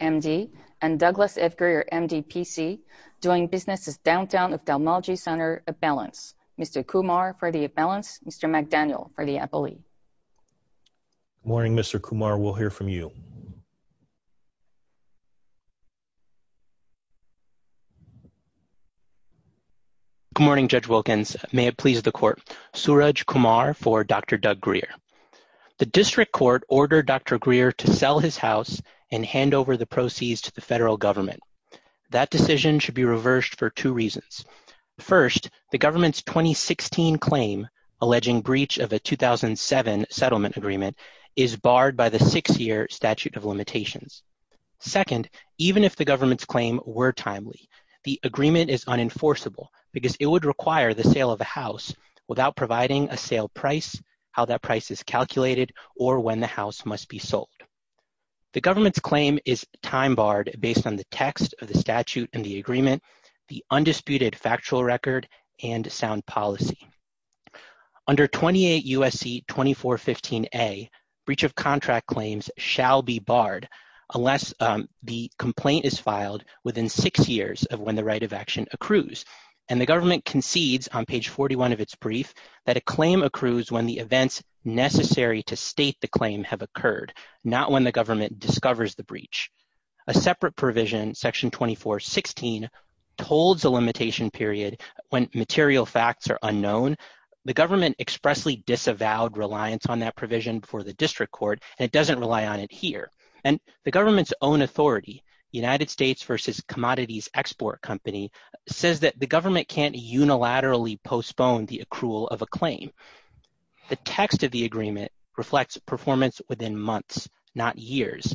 M.D. and Douglas F. Greer M.D. P.C. doing businesses downtown of Dalmauji Center, Appellants, Mr. Kumar for the Appellants, Mr. McDaniel for the Appellee. Good morning, Mr. Kumar. We'll hear from you. Good morning, Judge Wilkins. May it please the Court. Suraj Kumar for Dr. Doug Greer. The District Court ordered Dr. Greer to sell his house and hand over the proceeds to the federal government. That decision should be reversed for two reasons. First, the government's 2016 claim alleging breach of a 2007 settlement agreement is barred by the six-year statute of limitations. Second, even if the government's claim were timely, the agreement is unenforceable because it would require the sale of a house without providing a sale price, how that price is calculated, or when the house must be sold. The government's claim is time barred based on the text of the statute and the agreement, the undisputed factual record, and sound policy. Under 28 U.S.C. 2415A, breach of contract claims shall be barred unless the complaint is filed within six years of when the right of action accrues. And the government concedes on page 41 of its brief that a claim accrues when the events necessary to state the claim have occurred, not when the government discovers the breach. A separate provision, section 2416, holds a limitation period when material facts are unknown. The government expressly disavowed reliance on that provision for the District Court, and it doesn't rely on it here. And the government's own authority, United States vs. Commodities Export Company, says that the government can't unilaterally postpone the accrual of a claim. The text of the agreement reflects performance within months, not years.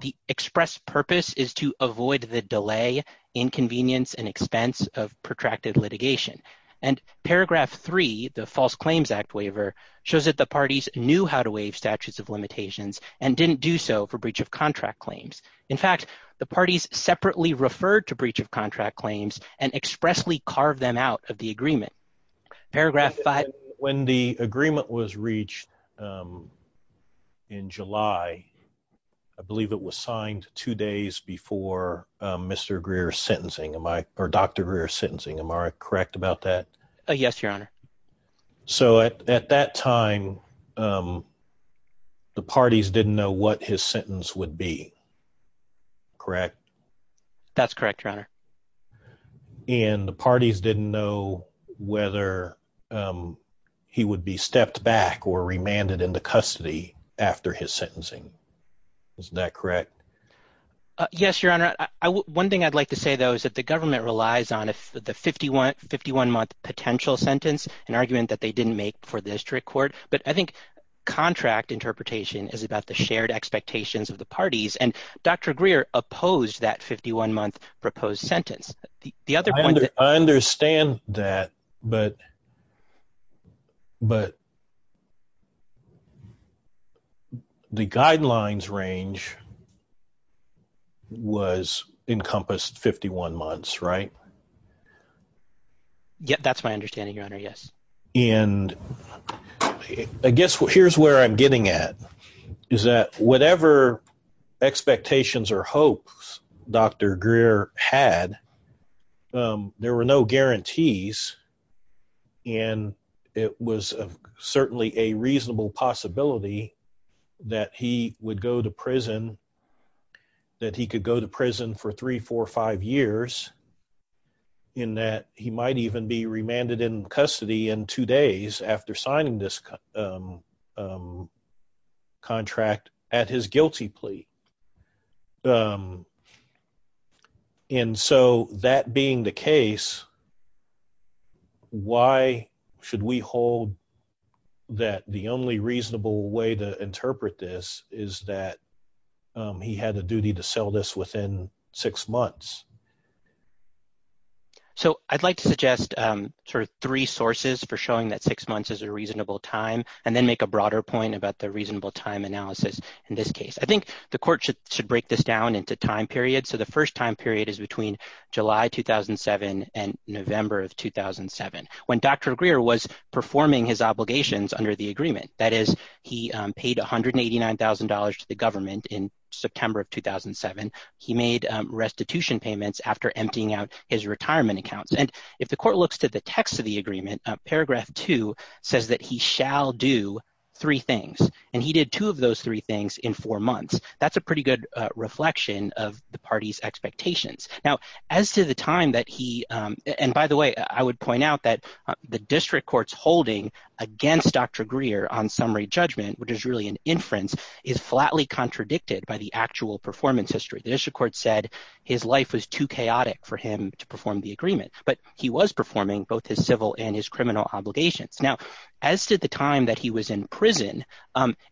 The express purpose is to avoid the delay, inconvenience, and expense of protracted litigation. And paragraph 3, the False Claims Act waiver, shows that the parties knew how to waive statutes of limitations and didn't do so for breach of contract claims. In fact, the parties separately referred to breach of contract claims and expressly carved them out of the agreement. Paragraph 5. When the agreement was reached in July, I believe it was signed two days before Mr. Greer's sentencing, or Dr. Greer's sentencing. Am I correct about that? Yes, Your Honor. So at that time, the parties didn't know what his sentence would be, correct? That's correct, Your Honor. And the parties didn't know whether he would be stepped back or remanded into custody after his sentencing. Isn't that correct? Yes, Your Honor. One thing I'd like to say, though, is that the government relies on the 51-month potential sentence, an argument that they didn't make for the district court. But I think contract interpretation is about the shared expectations of the parties. And Dr. Greer opposed that 51-month proposed sentence. I understand that, but the guidelines range was encompassed 51 months, right? That's my understanding, Your Honor, yes. And I guess here's where I'm getting at, is that whatever expectations or hopes Dr. Greer had, there were no guarantees. And it was certainly a reasonable possibility that he would go to prison, that he could go to prison for three, four, five years, in that he might even be remanded in custody in two days after signing this contract at his guilty plea. And so that being the case, why should we hold that the only reasonable way to interpret this is that he had a duty to sell this within six months? So I'd like to suggest sort of three sources for showing that six months is a reasonable time, and then make a broader point about the reasonable time analysis in this case. I think the court should break this down into time periods. So the first time period is between July 2007 and November of 2007, when Dr. Greer was performing his obligations under the agreement. That is, he paid $189,000 to the government in September of 2007. He made restitution payments after emptying out his retirement accounts. And if the court looks to the text of the agreement, paragraph two says that he shall do three things. And he did two of those three things in four months. That's a pretty good reflection of the party's expectations. Now, as to the time that he, and by the way, I would point out that the district court's holding against Dr. Greer on summary judgment, which is really an inference, is flatly contradicted by the actual performance history. The district court said his life was too chaotic for him to perform the agreement, but he was performing both his civil and his criminal obligations. Now, as to the time that he was in prison,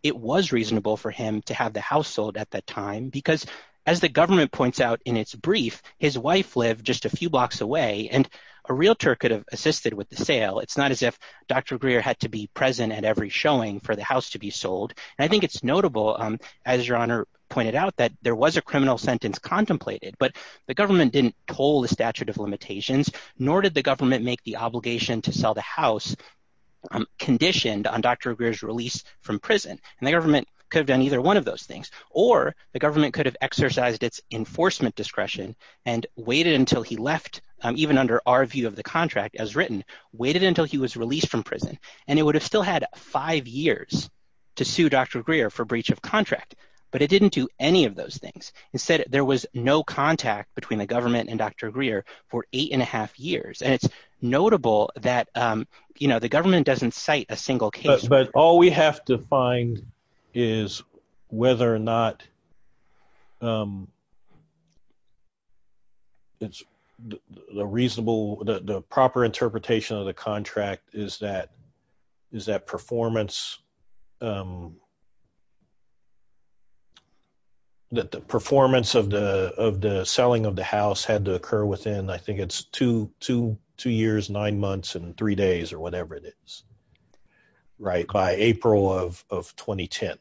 it was reasonable for him to have the house sold at that time, because as the government points out in its brief, his wife lived just a few blocks away, and a realtor could have assisted with the sale. It's not as if Dr. Greer had to be present at every showing for the house to be sold. And I think it's notable, as Your Honor pointed out, that there was a criminal sentence contemplated, but the government didn't pull the statute of limitations, nor did the government make the obligation to sell the house conditioned on Dr. Greer's release from prison. And the government could have done either one of those things, or the government could have exercised its enforcement discretion and waited until he left, even under our view of the contract as written, waited until he was released from prison. And it would have still had five years to sue Dr. Greer for breach of contract, but it didn't do any of those things. Instead, there was no contact between the government and Dr. Greer for eight and a half years, and it's notable that the government doesn't cite a single case. But all we have to find is whether or not the proper interpretation of the contract is that performance of the selling of the house had to occur within, I think it's two years, nine months, and three days, or whatever it is. Right, by April of 2010.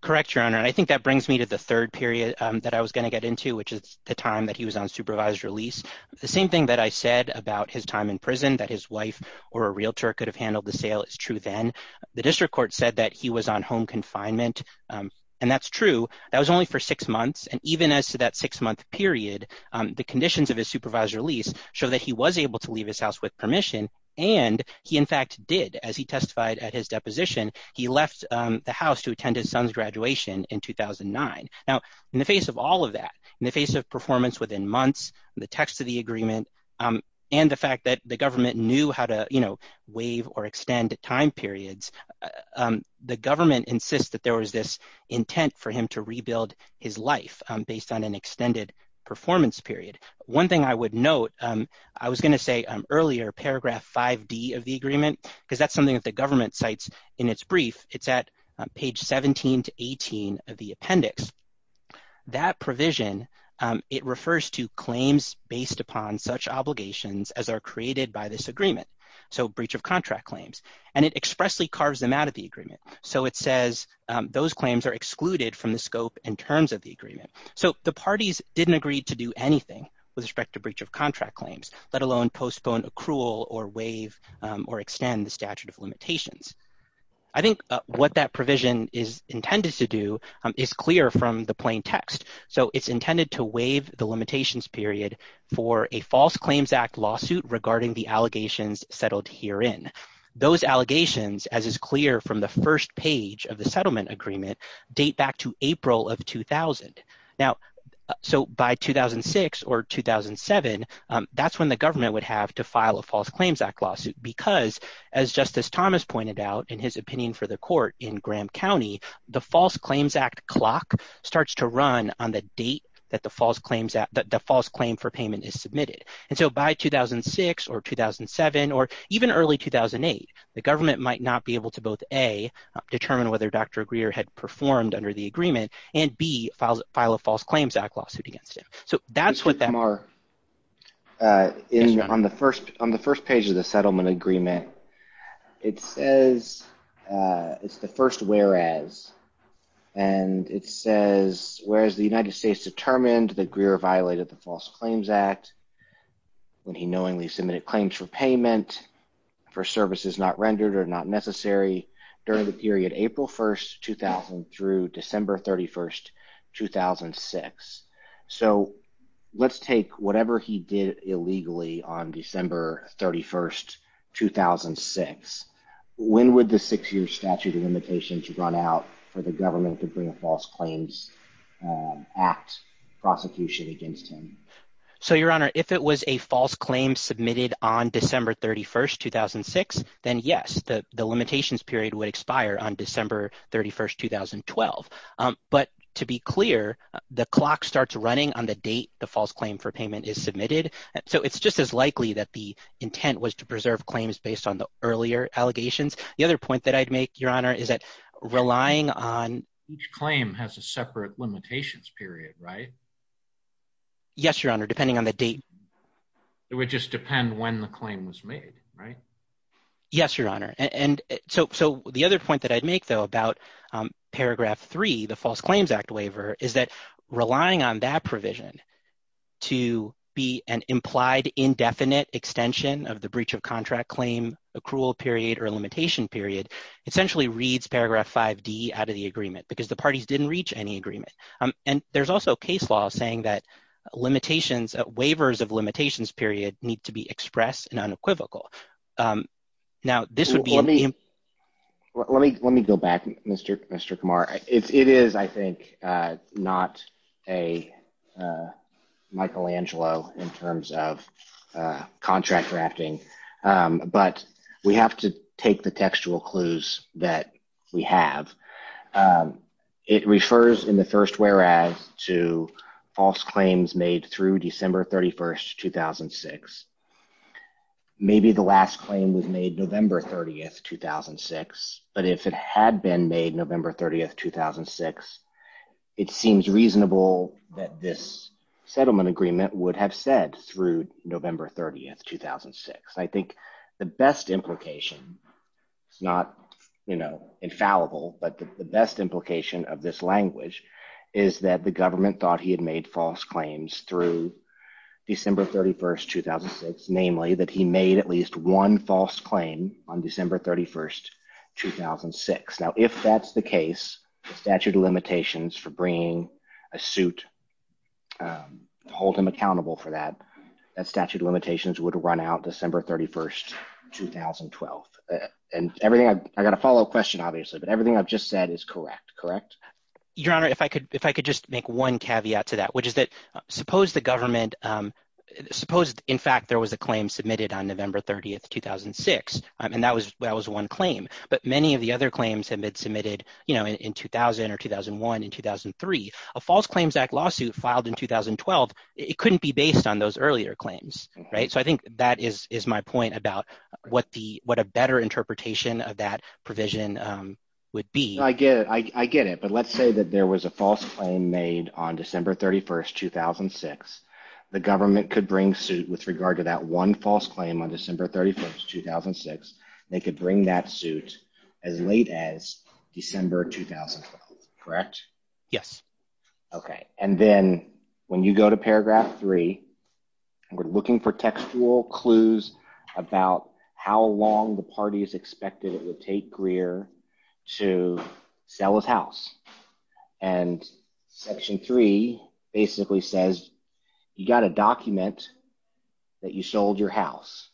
Correct, Your Honor, and I think that brings me to the third period that I was going to get into, which is the time that he was on supervised release. The same thing that I said about his time in prison, that his wife or a realtor could have handled the sale, is true then. The district court said that he was on home confinement, and that's true. That was only for six months, and even as to that six-month period, the conditions of his supervised release show that he was able to leave his house with permission, and he in fact did. As he testified at his deposition, he left the house to attend his son's graduation in 2009. Now, in the face of all of that, in the face of performance within months, the text of the agreement, and the fact that the government knew how to waive or extend time periods, the government insists that there was this intent for him to rebuild his life based on an extended performance period. One thing I would note, I was going to say earlier, paragraph 5D of the agreement, because that's something that the government cites in its brief. It's at page 17 to 18 of the appendix. That provision, it refers to claims based upon such obligations as are created by this agreement, so breach of contract claims, and it expressly carves them out of the agreement. So it says those claims are excluded from the scope and terms of the agreement. So the parties didn't agree to do anything with respect to breach of contract claims, let alone postpone, accrual, or waive, or extend the statute of limitations. I think what that provision is intended to do is clear from the plain text. So it's intended to waive the limitations period for a false claims act lawsuit regarding the allegations settled herein. Those allegations, as is clear from the first page of the settlement agreement, date back to April of 2000. Now, so by 2006 or 2007, that's when the government would have to file a false claims act lawsuit because, as Justice Thomas pointed out in his opinion for the court in Graham County, the false claims act clock starts to run on the date that the false claim for payment is submitted. And so by 2006 or 2007 or even early 2008, the government might not be able to both A, determine whether Dr. Greer had performed under the agreement, and B, file a false claims act lawsuit against him. So that's what that – On the first page of the settlement agreement, it says – it's the first whereas. And it says, whereas the United States determined that Greer violated the false claims act when he knowingly submitted claims for payment for services not rendered or not necessary during the period April 1st, 2000 through December 31st, 2006. So let's take whatever he did illegally on December 31st, 2006. When would the six-year statute of limitation to run out for the government to bring a false claims act prosecution against him? So, Your Honor, if it was a false claim submitted on December 31st, 2006, then yes, the limitations period would expire on December 31st, 2012. But to be clear, the clock starts running on the date the false claim for payment is submitted. So it's just as likely that the intent was to preserve claims based on the earlier allegations. The other point that I'd make, Your Honor, is that relying on – Each claim has a separate limitations period, right? Yes, Your Honor, depending on the date. It would just depend when the claim was made, right? Yes, Your Honor. And so the other point that I'd make, though, about paragraph 3, the false claims act waiver, is that relying on that provision to be an implied indefinite extension of the breach of contract claim accrual period or limitation period essentially reads paragraph 5D out of the agreement because the parties didn't reach any agreement. And there's also case law saying that limitations – waivers of limitations period need to be expressed and unequivocal. Now, this would be – Let me go back, Mr. Kamar. It is, I think, not a Michelangelo in terms of contract drafting, but we have to take the textual clues that we have. It refers in the first whereas to false claims made through December 31, 2006. Maybe the last claim was made November 30, 2006, but if it had been made November 30, 2006, it seems reasonable that this settlement agreement would have said through November 30, 2006. I think the best implication – it's not infallible, but the best implication of this language is that the government thought he had made false claims through December 31, 2006, namely that he made at least one false claim on December 31, 2006. Now, if that's the case, the statute of limitations for bringing a suit to hold him accountable for that, that statute of limitations would run out December 31, 2012. And everything – I got a follow-up question obviously, but everything I've just said is correct, correct? Your Honor, if I could just make one caveat to that, which is that suppose the government – suppose, in fact, there was a claim submitted on November 30, 2006, and that was one claim. But many of the other claims have been submitted in 2000 or 2001 and 2003. A False Claims Act lawsuit filed in 2012, it couldn't be based on those earlier claims. So I think that is my point about what a better interpretation of that provision would be. So I get it, but let's say that there was a false claim made on December 31, 2006. The government could bring suit with regard to that one false claim on December 31, 2006. They could bring that suit as late as December 2012, correct? Yes. Okay, and then when you go to paragraph three, we're looking for textual clues about how long the party is expected it would take Greer to sell his house. And section three basically says you got to document that you sold your house.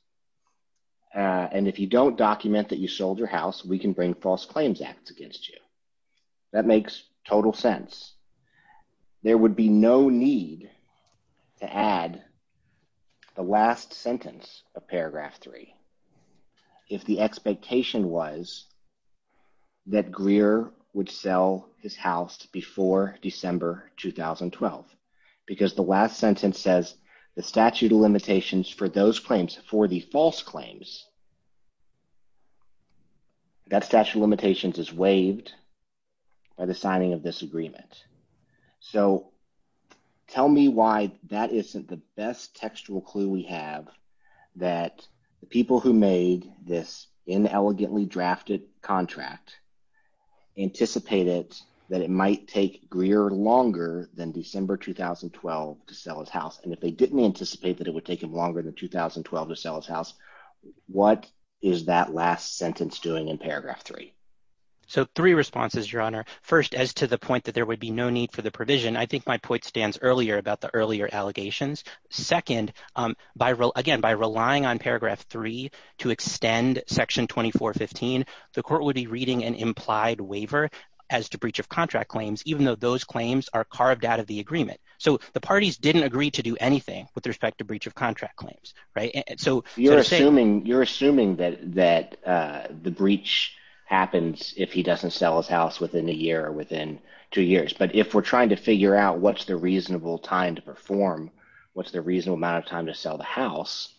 And if you don't document that you sold your house, we can bring False Claims Acts against you. That makes total sense. There would be no need to add the last sentence of paragraph three if the expectation was that Greer would sell his house before December 2012. Because the last sentence says the statute of limitations for those claims, for the false claims, that statute of limitations is waived by the signing of this agreement. So tell me why that isn't the best textual clue we have that the people who made this inelegantly drafted contract anticipated that it might take Greer longer than December 2012 to sell his house. And if they didn't anticipate that it would take him longer than 2012 to sell his house, what is that last sentence doing in paragraph three? So three responses, Your Honor. First, as to the point that there would be no need for the provision, I think my point stands earlier about the earlier allegations. Second, again, by relying on paragraph three to extend section 2415, the court would be reading an implied waiver as to breach of contract claims even though those claims are carved out of the agreement. So the parties didn't agree to do anything with respect to breach of contract claims. You're assuming that the breach happens if he doesn't sell his house within a year or within two years. But if we're trying to figure out what's the reasonable time to perform, what's the reasonable amount of time to sell the house,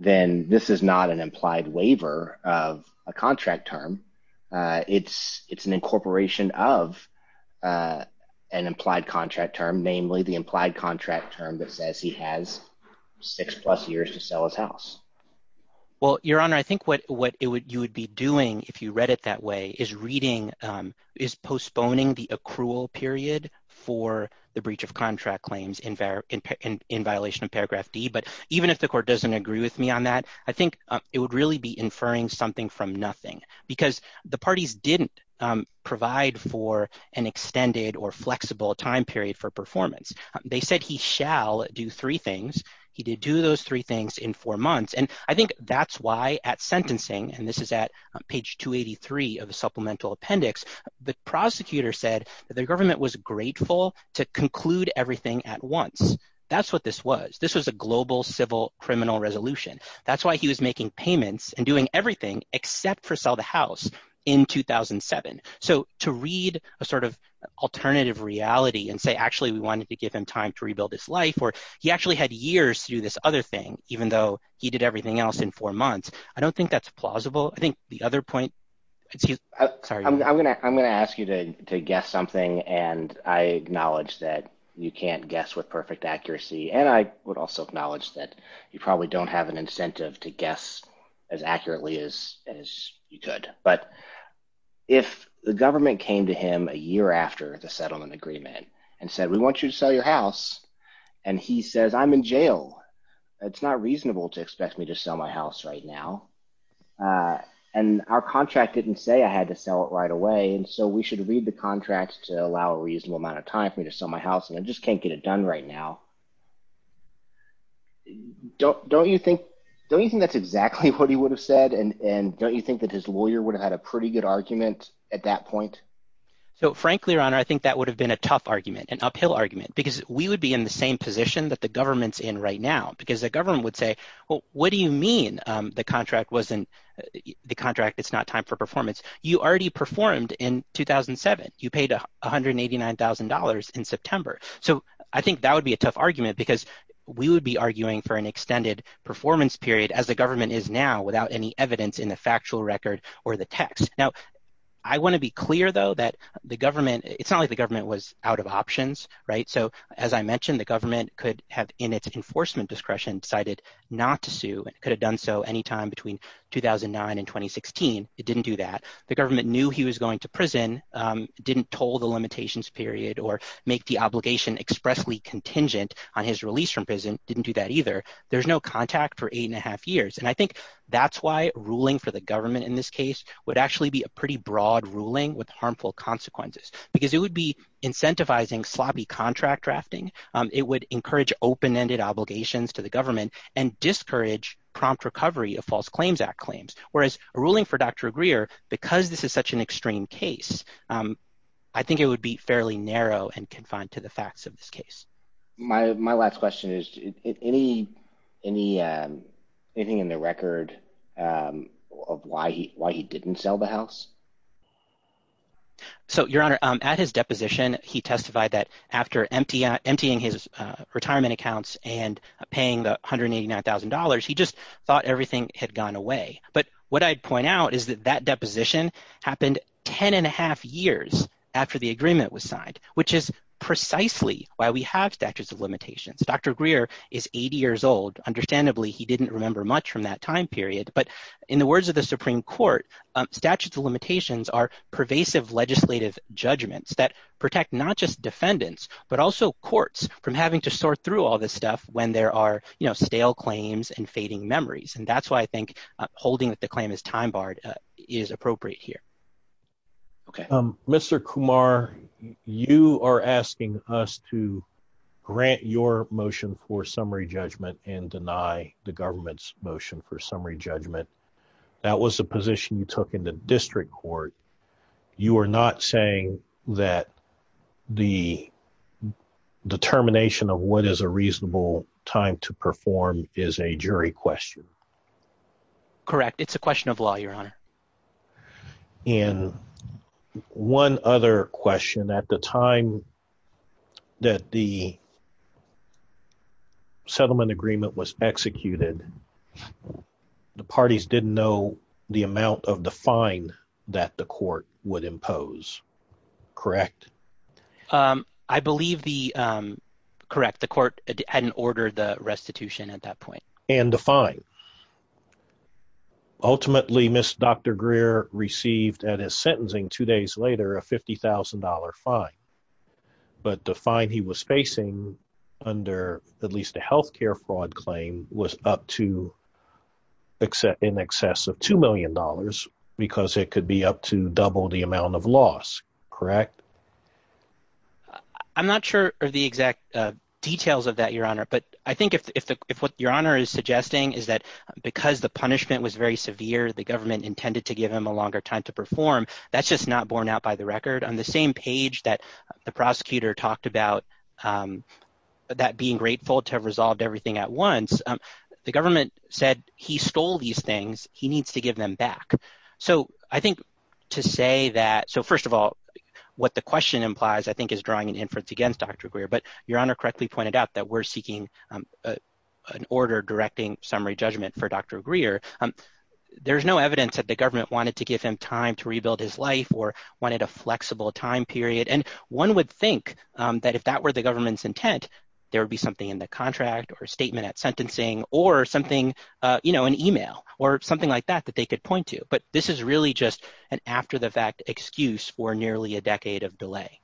then this is not an implied waiver of a contract term. It's an incorporation of an implied contract term, namely the implied contract term that says he has six-plus years to sell his house. Well, Your Honor, I think what you would be doing if you read it that way is reading – is postponing the accrual period for the breach of contract claims in violation of paragraph D. But even if the court doesn't agree with me on that, I think it would really be inferring something from nothing because the parties didn't provide for an extended or flexible time period for performance. They said he shall do three things. He did do those three things in four months. And I think that's why at sentencing – and this is at page 283 of the supplemental appendix – the prosecutor said that the government was grateful to conclude everything at once. That's what this was. This was a global civil criminal resolution. That's why he was making payments and doing everything except for sell the house in 2007. So to read a sort of alternative reality and say actually we wanted to give him time to rebuild his life or he actually had years to do this other thing even though he did everything else in four months, I don't think that's plausible. I'm going to ask you to guess something, and I acknowledge that you can't guess with perfect accuracy, and I would also acknowledge that you probably don't have an incentive to guess as accurately as you could. But if the government came to him a year after the settlement agreement and said, we want you to sell your house, and he says, I'm in jail. It's not reasonable to expect me to sell my house right now. And our contract didn't say I had to sell it right away, and so we should read the contract to allow a reasonable amount of time for me to sell my house, and I just can't get it done right now. Don't you think that's exactly what he would have said, and don't you think that his lawyer would have had a pretty good argument at that point? So frankly, your honor, I think that would have been a tough argument, an uphill argument, because we would be in the same position that the government's in right now because the government would say, well, what do you mean the contract wasn't – the contract, it's not time for performance? You already performed in 2007. You paid $189,000 in September. So I think that would be a tough argument because we would be arguing for an extended performance period as the government is now without any evidence in the factual record or the text. Now, I want to be clear, though, that the government – it's not like the government was out of options. So as I mentioned, the government could have in its enforcement discretion decided not to sue and could have done so anytime between 2009 and 2016. It didn't do that. The government knew he was going to prison, didn't toll the limitations period or make the obligation expressly contingent on his release from prison, didn't do that either. There's no contact for eight and a half years, and I think that's why ruling for the government in this case would actually be a pretty broad ruling with harmful consequences because it would be incentivizing sloppy contract drafting. It would encourage open-ended obligations to the government and discourage prompt recovery of False Claims Act claims, whereas a ruling for Dr. Greer, because this is such an extreme case, I think it would be fairly narrow and confined to the facts of this case. My last question is, anything in the record of why he didn't sell the house? So, Your Honor, at his deposition, he testified that after emptying his retirement accounts and paying the $189,000, he just thought everything had gone away. But what I'd point out is that that deposition happened ten and a half years after the agreement was signed, which is precisely why we have statutes of limitations. Dr. Greer is 80 years old. Understandably, he didn't remember much from that time period. But in the words of the Supreme Court, statutes of limitations are pervasive legislative judgments that protect not just defendants but also courts from having to sort through all this stuff when there are stale claims and fading memories. And that's why I think holding that the claim is time-barred is appropriate here. Mr. Kumar, you are asking us to grant your motion for summary judgment and deny the government's motion for summary judgment. That was a position you took in the district court. You are not saying that the determination of what is a reasonable time to perform is a jury question? Correct. It's a question of law, Your Honor. And one other question. At the time that the settlement agreement was executed, the parties didn't know the amount of the fine that the court would impose, correct? I believe the – correct. The court hadn't ordered the restitution at that point. And the fine. Ultimately, Dr. Greer received at his sentencing two days later a $50,000 fine. But the fine he was facing under at least a healthcare fraud claim was up to – in excess of $2 million because it could be up to double the amount of loss, correct? I'm not sure of the exact details of that, Your Honor. But I think if what Your Honor is suggesting is that because the punishment was very severe, the government intended to give him a longer time to perform, that's just not borne out by the record. On the same page that the prosecutor talked about that being grateful to have resolved everything at once, the government said he stole these things. He needs to give them back. So I think to say that – so first of all, what the question implies I think is drawing an inference against Dr. Greer. But Your Honor correctly pointed out that we're seeking an order directing summary judgment for Dr. Greer. There's no evidence that the government wanted to give him time to rebuild his life or wanted a flexible time period. And one would think that if that were the government's intent, there would be something in the contract or a statement at sentencing or something – an email or something like that that they could point to. But this is really just an after-the-fact excuse for nearly a decade of delay.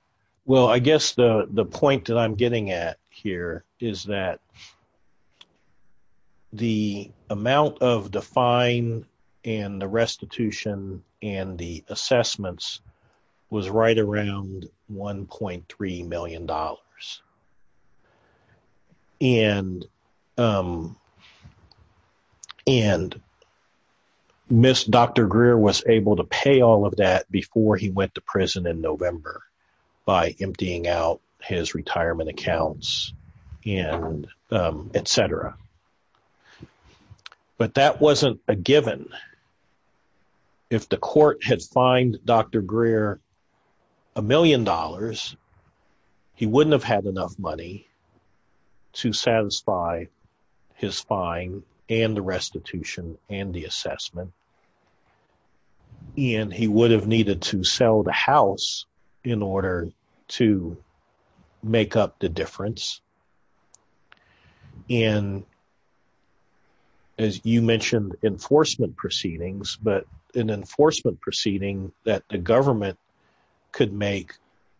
Well, I guess the point that I'm getting at here is that the amount of the fine and the restitution and the assessments was right around $1.3 million. And Ms. Dr. Greer was able to pay all of that before he went to prison in November by emptying out his retirement accounts and et cetera. But that wasn't a given. If the court had fined Dr. Greer $1 million, he wouldn't have had enough money to satisfy his fine and the restitution and the assessment. And he would have needed to sell the house in order to make up the difference. And as you mentioned enforcement proceedings, but an enforcement proceeding that the government could make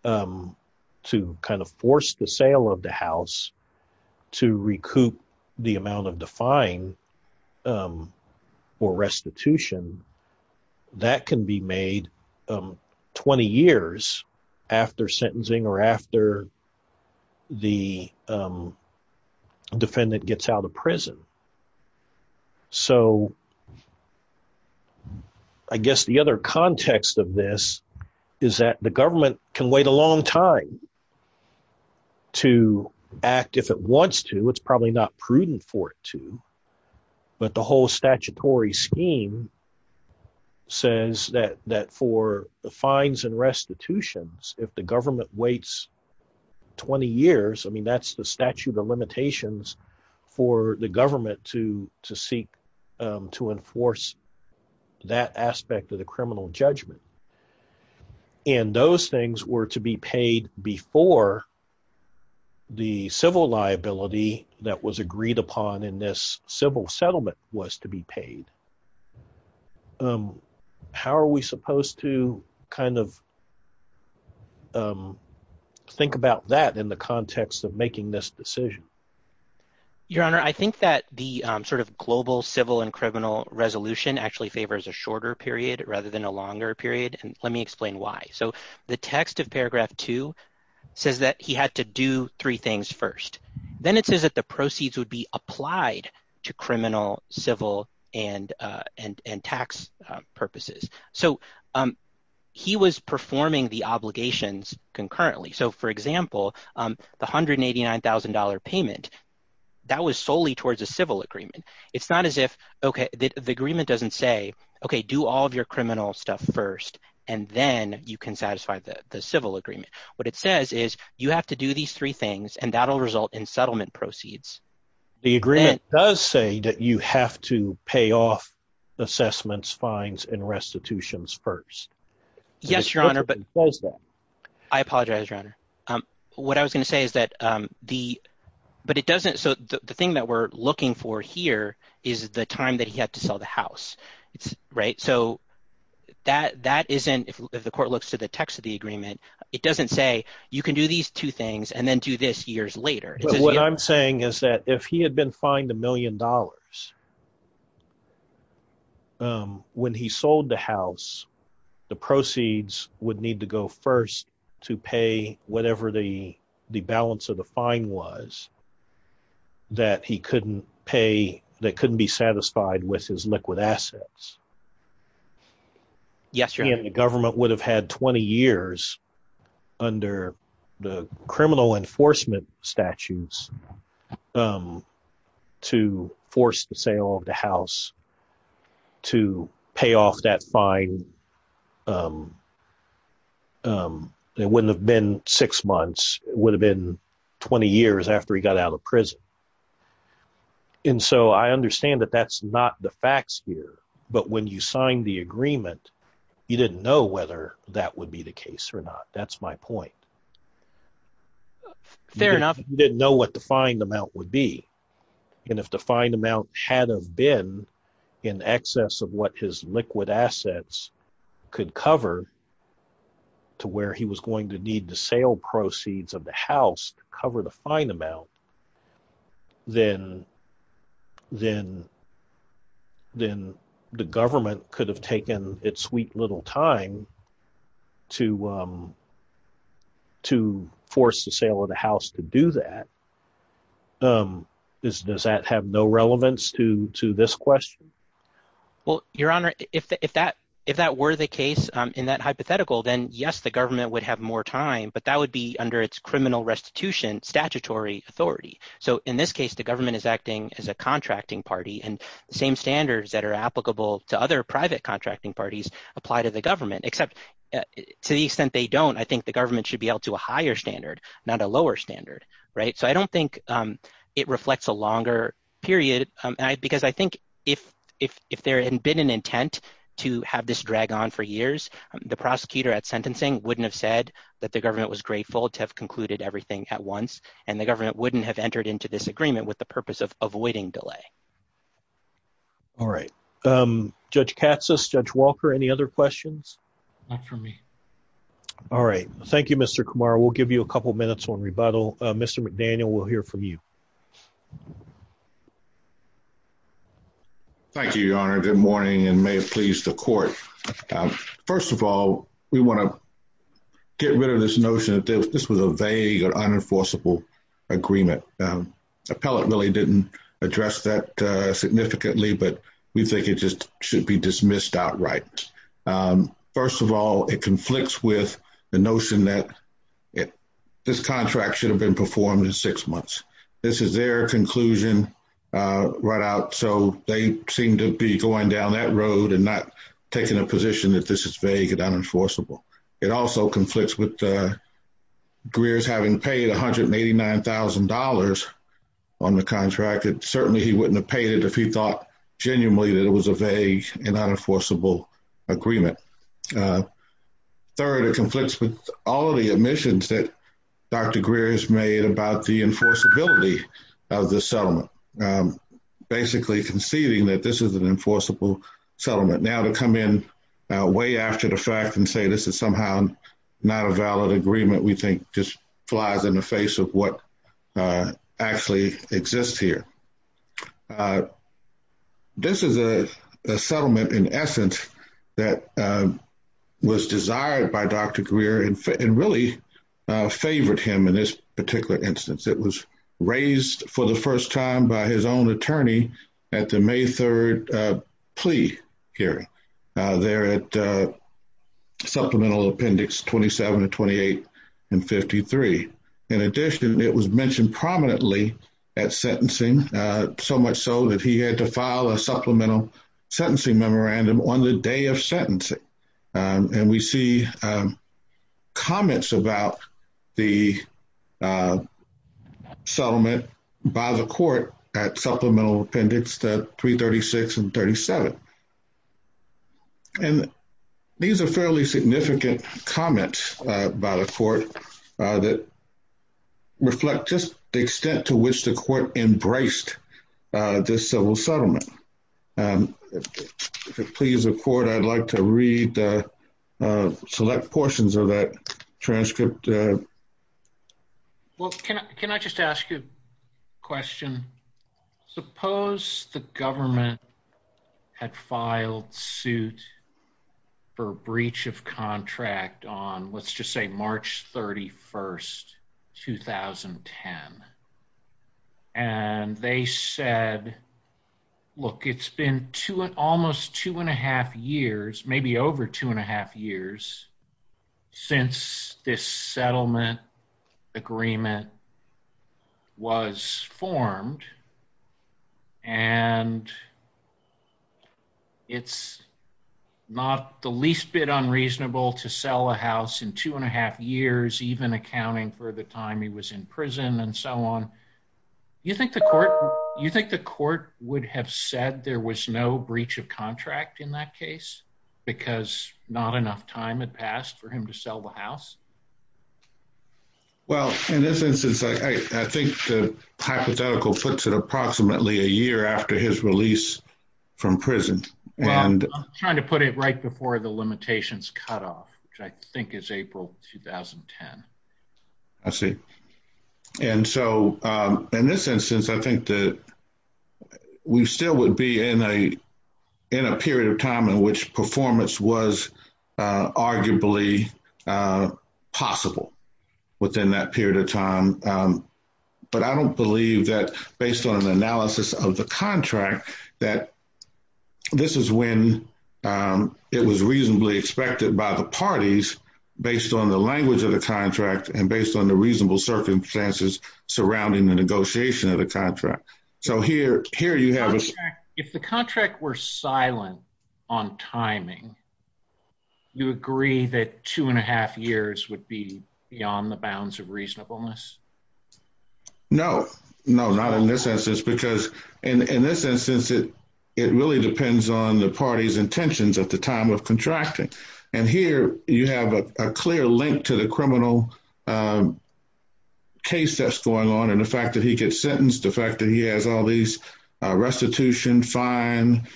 to kind of force the sale of the house to recoup the amount of the fine or restitution, that can be made 20 years after sentencing or after the defendant gets out of prison. So I guess the other context of this is that the government can wait a long time to act if it wants to. It's probably not prudent for it to. But the whole statutory scheme says that for the fines and restitutions, if the government waits 20 years, I mean that's the statute of limitations for the government to seek to enforce that aspect of the criminal judgment. And those things were to be paid before the civil liability that was agreed upon in this civil settlement was to be paid. How are we supposed to kind of think about that in the context of making this decision? Your Honor, I think that the sort of global civil and criminal resolution actually favors a shorter period rather than a longer period. And let me explain why. So the text of paragraph two says that he had to do three things first. Then it says that the proceeds would be applied to criminal, civil, and tax purposes. So he was performing the obligations concurrently. So, for example, the $189,000 payment, that was solely towards a civil agreement. It's not as if – okay, the agreement doesn't say, okay, do all of your criminal stuff first, and then you can satisfy the civil agreement. What it says is you have to do these three things, and that will result in settlement proceeds. The agreement does say that you have to pay off assessments, fines, and restitutions first. Yes, Your Honor, but… I apologize, Your Honor. What I was going to say is that the – but it doesn't – so the thing that we're looking for here is the time that he had to sell the house. So that isn't – if the court looks to the text of the agreement, it doesn't say you can do these two things and then do this years later. What I'm saying is that if he had been fined $1 million, when he sold the house, the proceeds would need to go first to pay whatever the balance of the fine was that he couldn't pay – that couldn't be satisfied with his liquid assets. Yes, Your Honor. He and the government would have had 20 years under the criminal enforcement statutes to force the sale of the house to pay off that fine. It wouldn't have been six months. It would have been 20 years after he got out of prison. And so I understand that that's not the facts here, but when you signed the agreement, you didn't know whether that would be the case or not. That's my point. Fair enough. He didn't know what the fine amount would be. And if the fine amount had have been in excess of what his liquid assets could cover to where he was going to need the sale proceeds of the house to cover the fine amount, then the government could have taken its sweet little time to force the sale of the house to do that. Does that have no relevance to this question? Well, Your Honor, if that were the case in that hypothetical, then yes, the government would have more time, but that would be under its criminal restitution statutory authority. So in this case, the government is acting as a contracting party and the same standards that are applicable to other private contracting parties apply to the government, except to the extent they don't, I think the government should be able to a higher standard, not a lower standard. So I don't think it reflects a longer period because I think if there had been an intent to have this drag on for years, the prosecutor at sentencing wouldn't have said that the government was grateful to have concluded everything at once, and the government wouldn't have entered into this agreement with the purpose of avoiding delay. All right. Judge Katsas, Judge Walker, any other questions? Not for me. All right. Thank you, Mr. Kumar. We'll give you a couple minutes on rebuttal. Mr. McDaniel, we'll hear from you. Thank you, Your Honor. Good morning and may it please the court. First of all, we want to get rid of this notion that this was a vague or unenforceable agreement. Appellate really didn't address that significantly, but we think it just should be dismissed outright. First of all, it conflicts with the notion that this contract should have been performed in six months. This is their conclusion right out, so they seem to be going down that road and not taking a position that this is vague and unenforceable. It also conflicts with Greer's having paid $189,000 on the contract. Certainly, he wouldn't have paid it if he thought genuinely that it was a vague and unenforceable agreement. Third, it conflicts with all of the omissions that Dr. Greer has made about the enforceability of the settlement, basically conceding that this is an enforceable settlement. Now, to come in way after the fact and say this is somehow not a valid agreement, we think just flies in the face of what actually exists here. This is a settlement, in essence, that was desired by Dr. Greer and really favored him in this particular instance. It was raised for the first time by his own attorney at the May 3rd plea hearing there at Supplemental Appendix 27 and 28 and 53. In addition, it was mentioned prominently at sentencing, so much so that he had to file a supplemental sentencing memorandum on the day of sentencing. We see comments about the settlement by the court at Supplemental Appendix 336 and 37. These are fairly significant comments by the court that reflect just the extent to which the court embraced this civil settlement. If it pleases the court, I'd like to read the select portions of that transcript. Well, can I just ask you a question? Suppose the government had filed suit for breach of contract on, let's just say, March 31st, 2010. And they said, look, it's been almost two and a half years, maybe over two and a half years, since this settlement agreement was formed. And it's not the least bit unreasonable to sell a house in two and a half years, even accounting for the time he was in prison and so on. You think the court would have said there was no breach of contract in that case because not enough time had passed for him to sell the house? Well, in this instance, I think the hypothetical puts it approximately a year after his release from prison. Well, I'm trying to put it right before the limitations cutoff, which I think is April 2010. I see. And so in this instance, I think that we still would be in a period of time in which performance was arguably possible within that period of time. But I don't believe that, based on an analysis of the contract, that this is when it was reasonably expected by the parties, based on the language of the contract and based on the reasonable circumstances surrounding the negotiation of the contract. If the contract were silent on timing, you agree that two and a half years would be beyond the bounds of reasonableness? No, not in this instance, because in this instance, it really depends on the parties' intentions at the time of contracting. And here, you have a clear link to the criminal case that's going on and the fact that he gets sentenced, the fact that he has all these restitution, fine,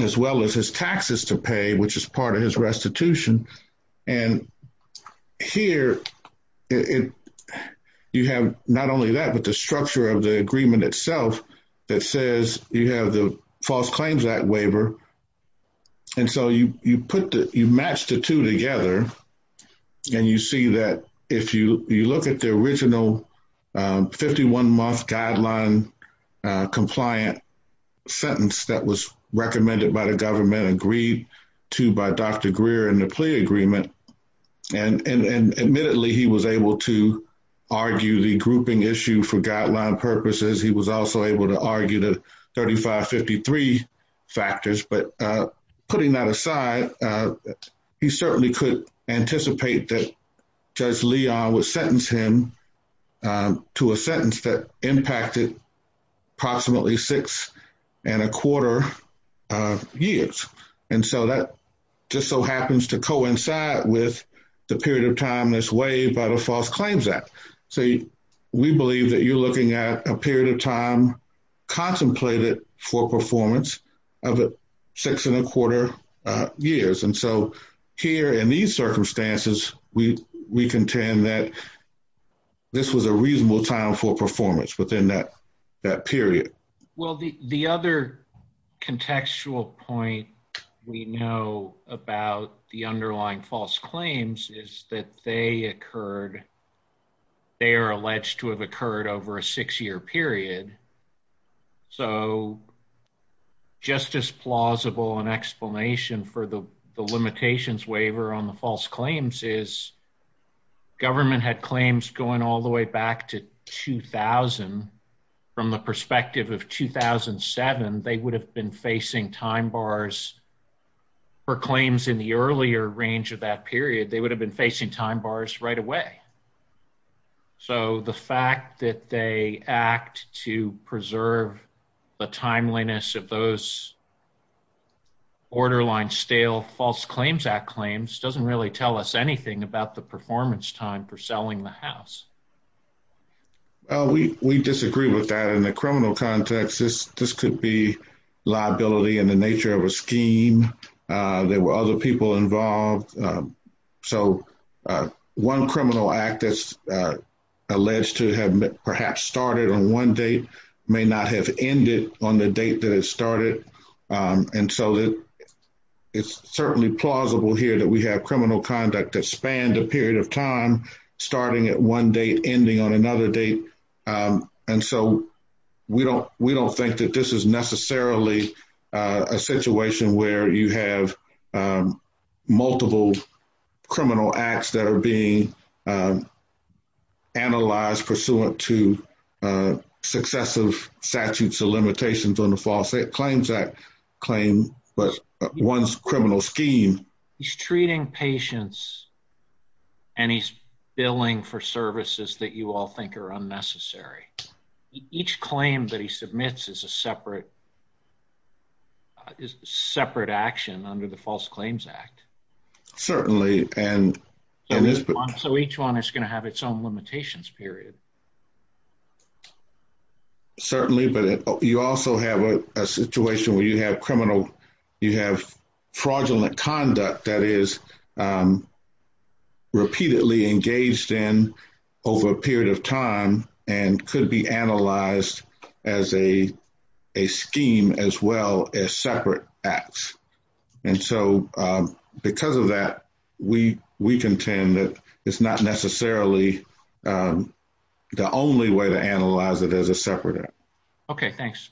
as well as his taxes to pay, which is part of his restitution. And here, you have not only that, but the structure of the agreement itself that says you have the False Claims Act waiver. And so you match the two together, and you see that if you look at the original 51-month guideline-compliant sentence that was recommended by the government, agreed to by Dr. Greer in the plea agreement, and admittedly, he was able to argue the grouping issue for guideline purposes, he was also able to argue the 35-53 factors, but putting that aside, he certainly could anticipate that Judge Leon would sentence him to a sentence that impacted approximately six and a quarter years. And so that just so happens to coincide with the period of time that's waived by the False Claims Act. So we believe that you're looking at a period of time contemplated for performance of six and a quarter years. And so here, in these circumstances, we contend that this was a reasonable time for performance within that period. Well, the other contextual point we know about the underlying false claims is that they are alleged to have occurred over a six-year period. So just as plausible an explanation for the limitations waiver on the false claims is government had claims going all the way back to 2000. From the perspective of 2007, they would have been facing time bars for claims in the earlier range of that period, they would have been facing time bars right away. So the fact that they act to preserve the timeliness of those borderline stale False Claims Act claims doesn't really tell us anything about the performance time for selling the house. We disagree with that in the criminal context. This could be liability in the nature of a scheme. There were other people involved. So one criminal act that's alleged to have perhaps started on one date may not have ended on the date that it started. And so it's certainly plausible here that we have criminal conduct that spanned a period of time, starting at one date, ending on another date. And so we don't think that this is necessarily a situation where you have multiple criminal acts that are being analyzed pursuant to successive statutes of limitations on the False Claims Act claim, but one's criminal scheme. He's treating patients and he's billing for services that you all think are unnecessary. Each claim that he submits is a separate action under the False Claims Act. Certainly. So each one is going to have its own limitations period. Certainly, but you also have a situation where you have fraudulent conduct that is repeatedly engaged in over a period of time and could be analyzed as a scheme as well as separate acts. And so because of that, we contend that it's not necessarily the only way to analyze it as a separate act. Okay, thanks.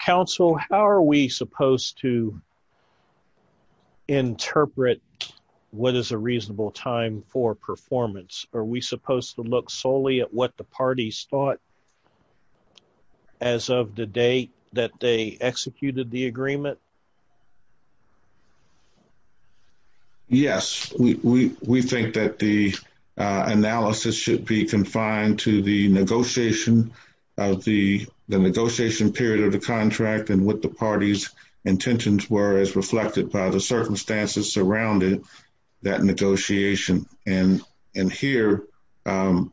Council, how are we supposed to interpret what is a reasonable time for performance? Are we supposed to look solely at what the parties thought as of the day that they executed the agreement? Yes, we think that the analysis should be confined to the negotiation of the negotiation period of the contract and what the parties intentions were as reflected by the circumstances surrounding that negotiation. And here... The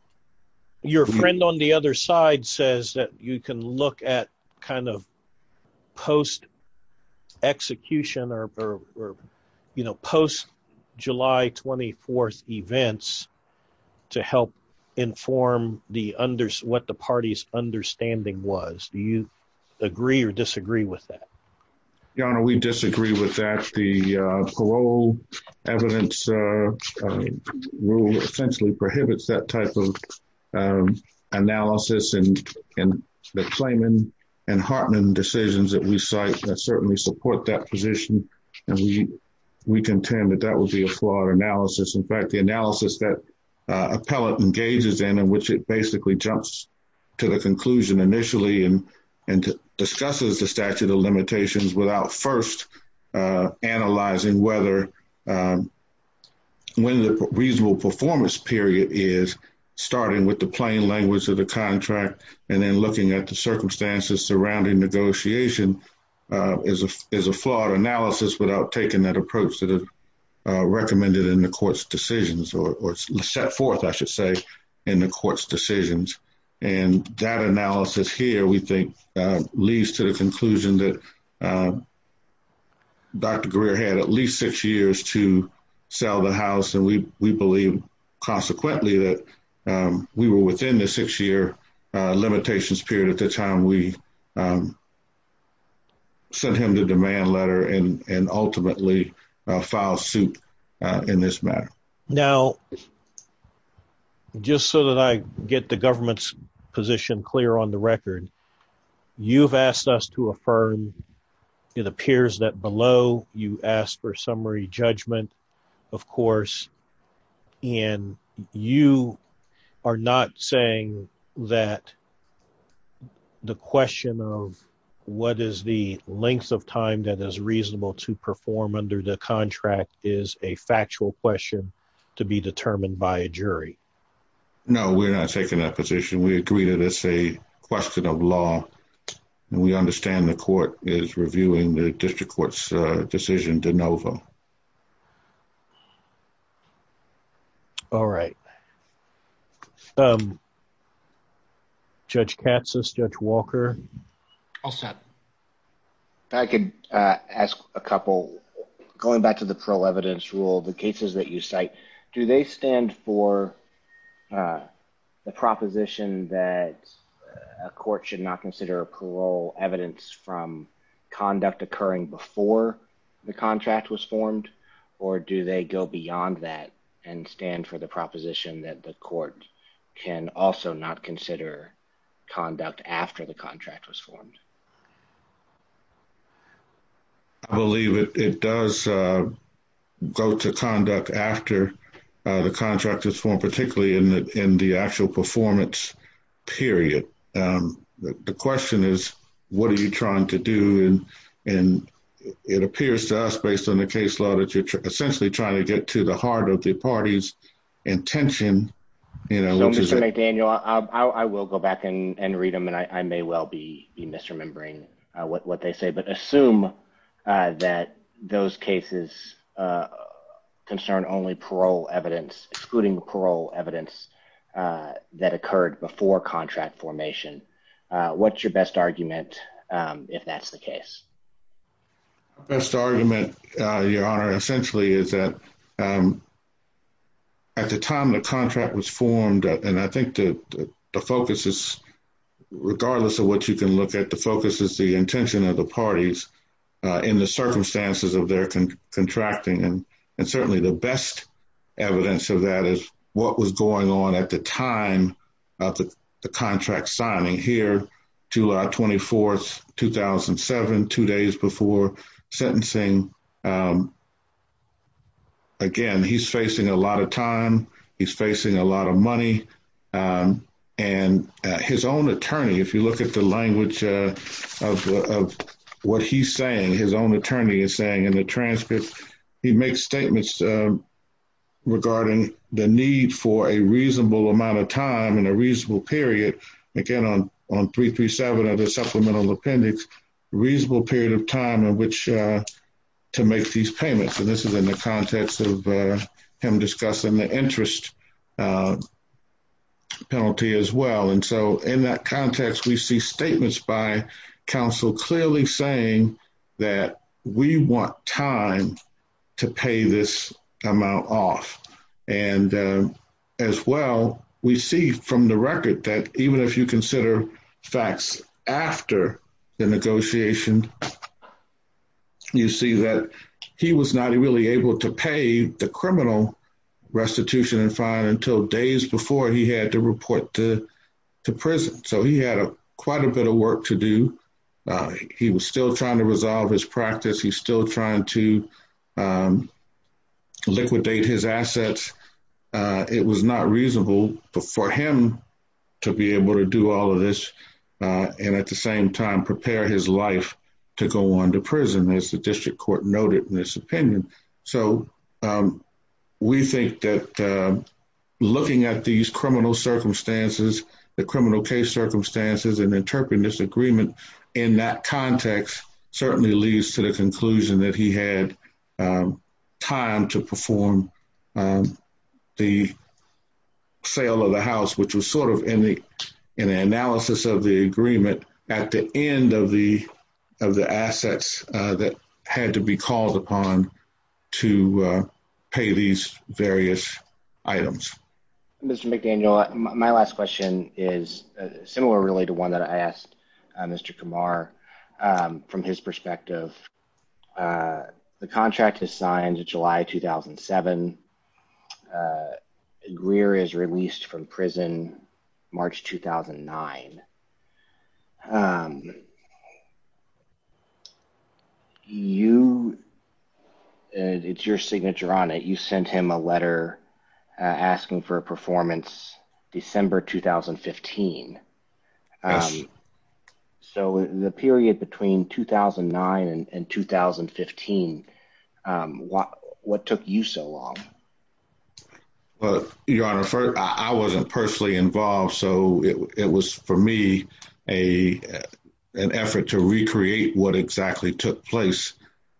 trend on the other side says that you can look at kind of post-execution or, you know, post-July 24th events to help inform what the party's understanding was. Do you agree or disagree with that? Your Honor, we disagree with that. The parole evidence rule essentially prohibits that type of analysis and the Clayman and Hartman decisions that we cite that certainly support that position. And we contend that that would be a flawed analysis. In fact, the analysis that appellate engages in, in which it basically jumps to the conclusion initially and discusses the statute of limitations without first analyzing whether... It is a flawed analysis without taking that approach that is recommended in the court's decisions or set forth, I should say, in the court's decisions. And that analysis here, we think, leads to the conclusion that Dr. Greer had at least six years to sell the house. And we believe consequently that we were within the six-year limitations period at the time we sent him the demand letter and ultimately filed suit in this matter. Now, just so that I get the government's position clear on the record, you've asked us to affirm. It appears that below you asked for summary judgment, of course. And you are not saying that the question of what is the length of time that is reasonable to perform under the contract is a factual question to be determined by a jury? No, we're not taking that position. We agree that it's a question of law. And we understand the court is reviewing the district court's decision de novo. All right. Judge Katsas, Judge Walker? All set. I could ask a couple. Going back to the parole evidence rule, the cases that you cite, do they stand for the proposition that a court should not consider parole evidence from conduct occurring before the contract was formed? Or do they go beyond that and stand for the proposition that the court can also not consider conduct after the contract was formed? I believe it does go to conduct after the contract is formed, particularly in the actual performance period. The question is, what are you trying to do? And it appears to us, based on the case law, that you're essentially trying to get to the heart of the party's intention. So, Mr. McDaniel, I will go back and read them, and I may well be misremembering what they say. But assume that those cases concern only parole evidence, excluding the parole evidence that occurred before contract formation. What's your best argument if that's the case? My best argument, Your Honor, essentially is that at the time the contract was formed, and I think the focus is, regardless of what you can look at, the focus is the intention of the parties in the circumstances of their contracting. And certainly the best evidence of that is what was going on at the time of the contract signing here, July 24th, 2007, two days before sentencing. Again, he's facing a lot of time. He's facing a lot of money. And his own attorney, if you look at the language of what he's saying, his own attorney is saying in the transcript, he makes statements regarding the need for a reasonable amount of time and a reasonable period, again, on 337 of the Supplemental Appendix, a reasonable period of time in which to make these payments. And this is in the context of him discussing the interest penalty as well. And so in that context, we see statements by counsel clearly saying that we want time to pay this amount off. And as well, we see from the record that even if you consider facts after the negotiation, you see that he was not really able to pay the criminal restitution and fine until days before he had to report to prison. So he had quite a bit of work to do. He was still trying to resolve his practice. He's still trying to liquidate his assets. It was not reasonable for him to be able to do all of this and at the same time prepare his life to go on to prison, as the district court noted in this opinion. So we think that looking at these criminal circumstances, the criminal case circumstances and interpreting this agreement in that context certainly leads to the conclusion that he had time to perform the sale of the house, which was sort of in the analysis of the agreement at the end of the assets that had to be called upon to pay these various items. Mr. McDaniel, my last question is similar really to one that I asked Mr. Kumar from his perspective. The contract is signed July 2007. Greer is released from prison, March 2009. It's your signature on it. You sent him a letter asking for a performance December 2015. Yes. So the period between 2009 and 2015, what took you so long? Your Honor, I wasn't personally involved, so it was for me an effort to recreate what exactly took place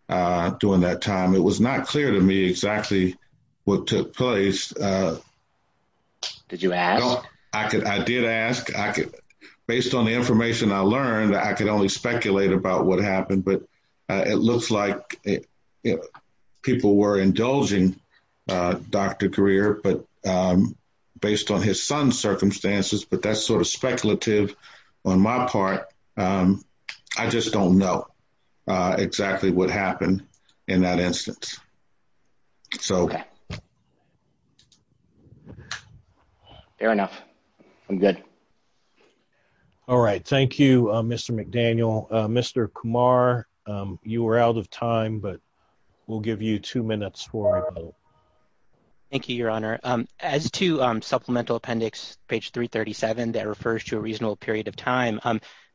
during that time. It was not clear to me exactly what took place. Did you ask? I did ask. Based on the information I learned, I could only speculate about what happened, but it looks like people were indulging Dr. Greer based on his son's circumstances, but that's sort of speculative on my part. I just don't know exactly what happened in that instance. Okay. Fair enough. I'm good. All right. Thank you, Mr. McDaniel. Mr. Kumar, you were out of time, but we'll give you two minutes. Thank you, Your Honor. As to Supplemental Appendix page 337 that refers to a reasonable period of time,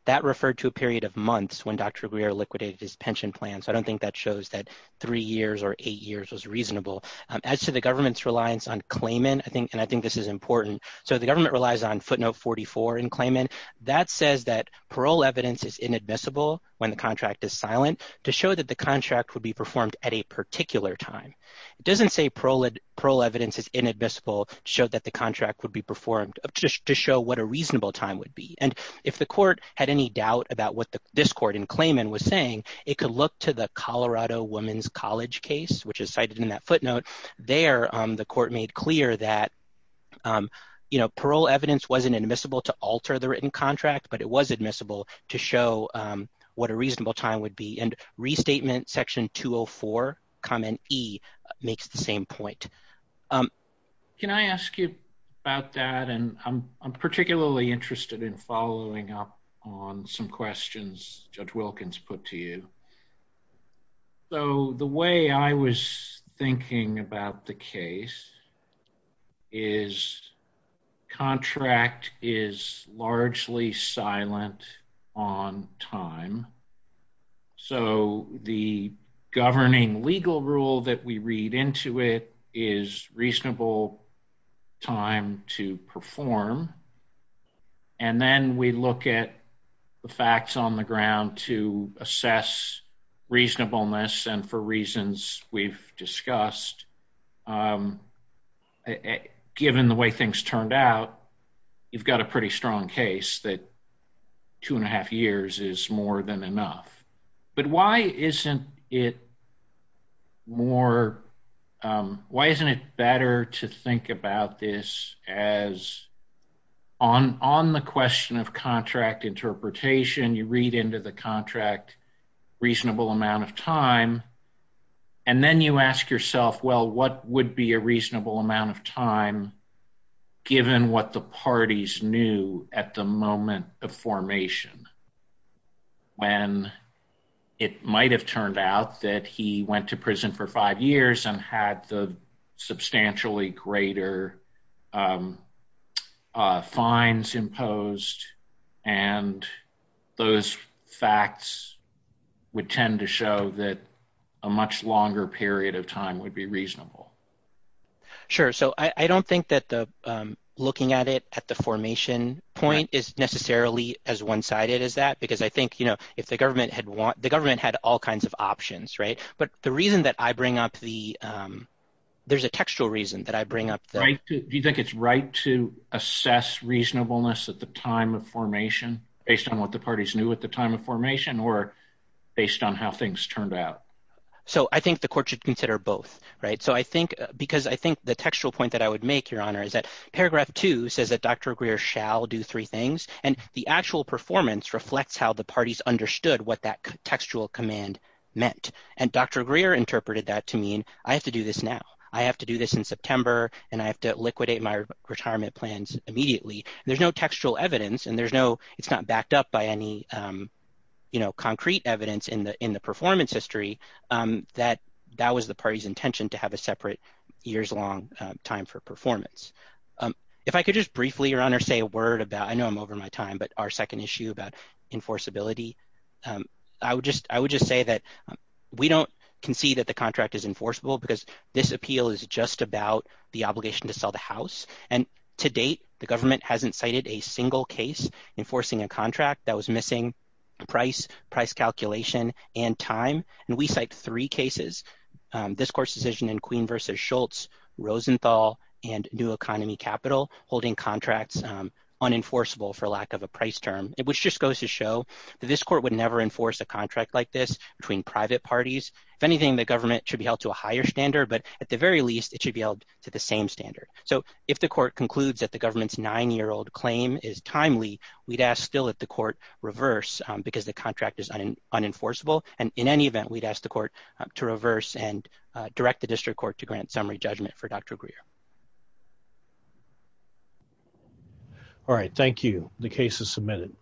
that referred to a period of months when Dr. Greer liquidated his pension plan. So I don't think that shows that three years or eight years was reasonable. As to the government's reliance on claimant, and I think this is important, so the government relies on footnote 44 in claimant. That says that parole evidence is inadmissible when the contract is silent to show that the contract would be performed at a particular time. It doesn't say parole evidence is inadmissible to show that the contract would be performed to show what a reasonable time would be. And if the court had any doubt about what this court in claimant was saying, it could look to the Colorado Women's College case, which is cited in that footnote. There, the court made clear that, you know, parole evidence wasn't admissible to alter the written contract, but it was admissible to show what a reasonable time would be. And Restatement Section 204, Comment E, makes the same point. Can I ask you about that? And I'm particularly interested in following up on some questions Judge Wilkins put to you. So the way I was thinking about the case is contract is largely silent on time. So the governing legal rule that we read into it is reasonable time to perform. And then we look at the facts on the ground to assess reasonableness and for reasons we've discussed. Given the way things turned out, you've got a pretty strong case that two and a half years is more than enough. But why isn't it better to think about this as on the question of contract interpretation, you read into the contract reasonable amount of time. And then you ask yourself, well, what would be a reasonable amount of time, given what the parties knew at the moment of formation? When it might have turned out that he went to prison for five years and had the substantially greater fines imposed and those facts would tend to show that a much longer period of time would be reasonable. Sure. So I don't think that looking at it at the formation point is necessarily as one-sided as that, because I think if the government had all kinds of options. But the reason that I bring up the – there's a textual reason that I bring up. Do you think it's right to assess reasonableness at the time of formation based on what the parties knew at the time of formation or based on how things turned out? So I think the court should consider both. Right. So I think because I think the textual point that I would make, Your Honor, is that paragraph two says that Dr. Greer shall do three things. And the actual performance reflects how the parties understood what that textual command meant. And Dr. Greer interpreted that to mean I have to do this now. I have to do this in September and I have to liquidate my retirement plans immediately. There's no textual evidence, and there's no – it's not backed up by any concrete evidence in the performance history that that was the party's intention to have a separate years-long time for performance. If I could just briefly, Your Honor, say a word about – I know I'm over my time, but our second issue about enforceability, I would just say that we don't concede that the contract is enforceable because this appeal is just about the obligation to sell the house. And to date, the government hasn't cited a single case enforcing a contract that was missing price, price calculation, and time. And we cite three cases, this court's decision in Queen v. Schultz, Rosenthal, and New Economy Capital holding contracts unenforceable for lack of a price term, which just goes to show that this court would never enforce a contract like this between private parties. If anything, the government should be held to a higher standard, but at the very least, it should be held to the same standard. So if the court concludes that the government's nine-year-old claim is timely, we'd ask still that the court reverse because the contract is unenforceable. And in any event, we'd ask the court to reverse and direct the district court to grant summary judgment for Dr. Greer. All right. Thank you. The case is submitted.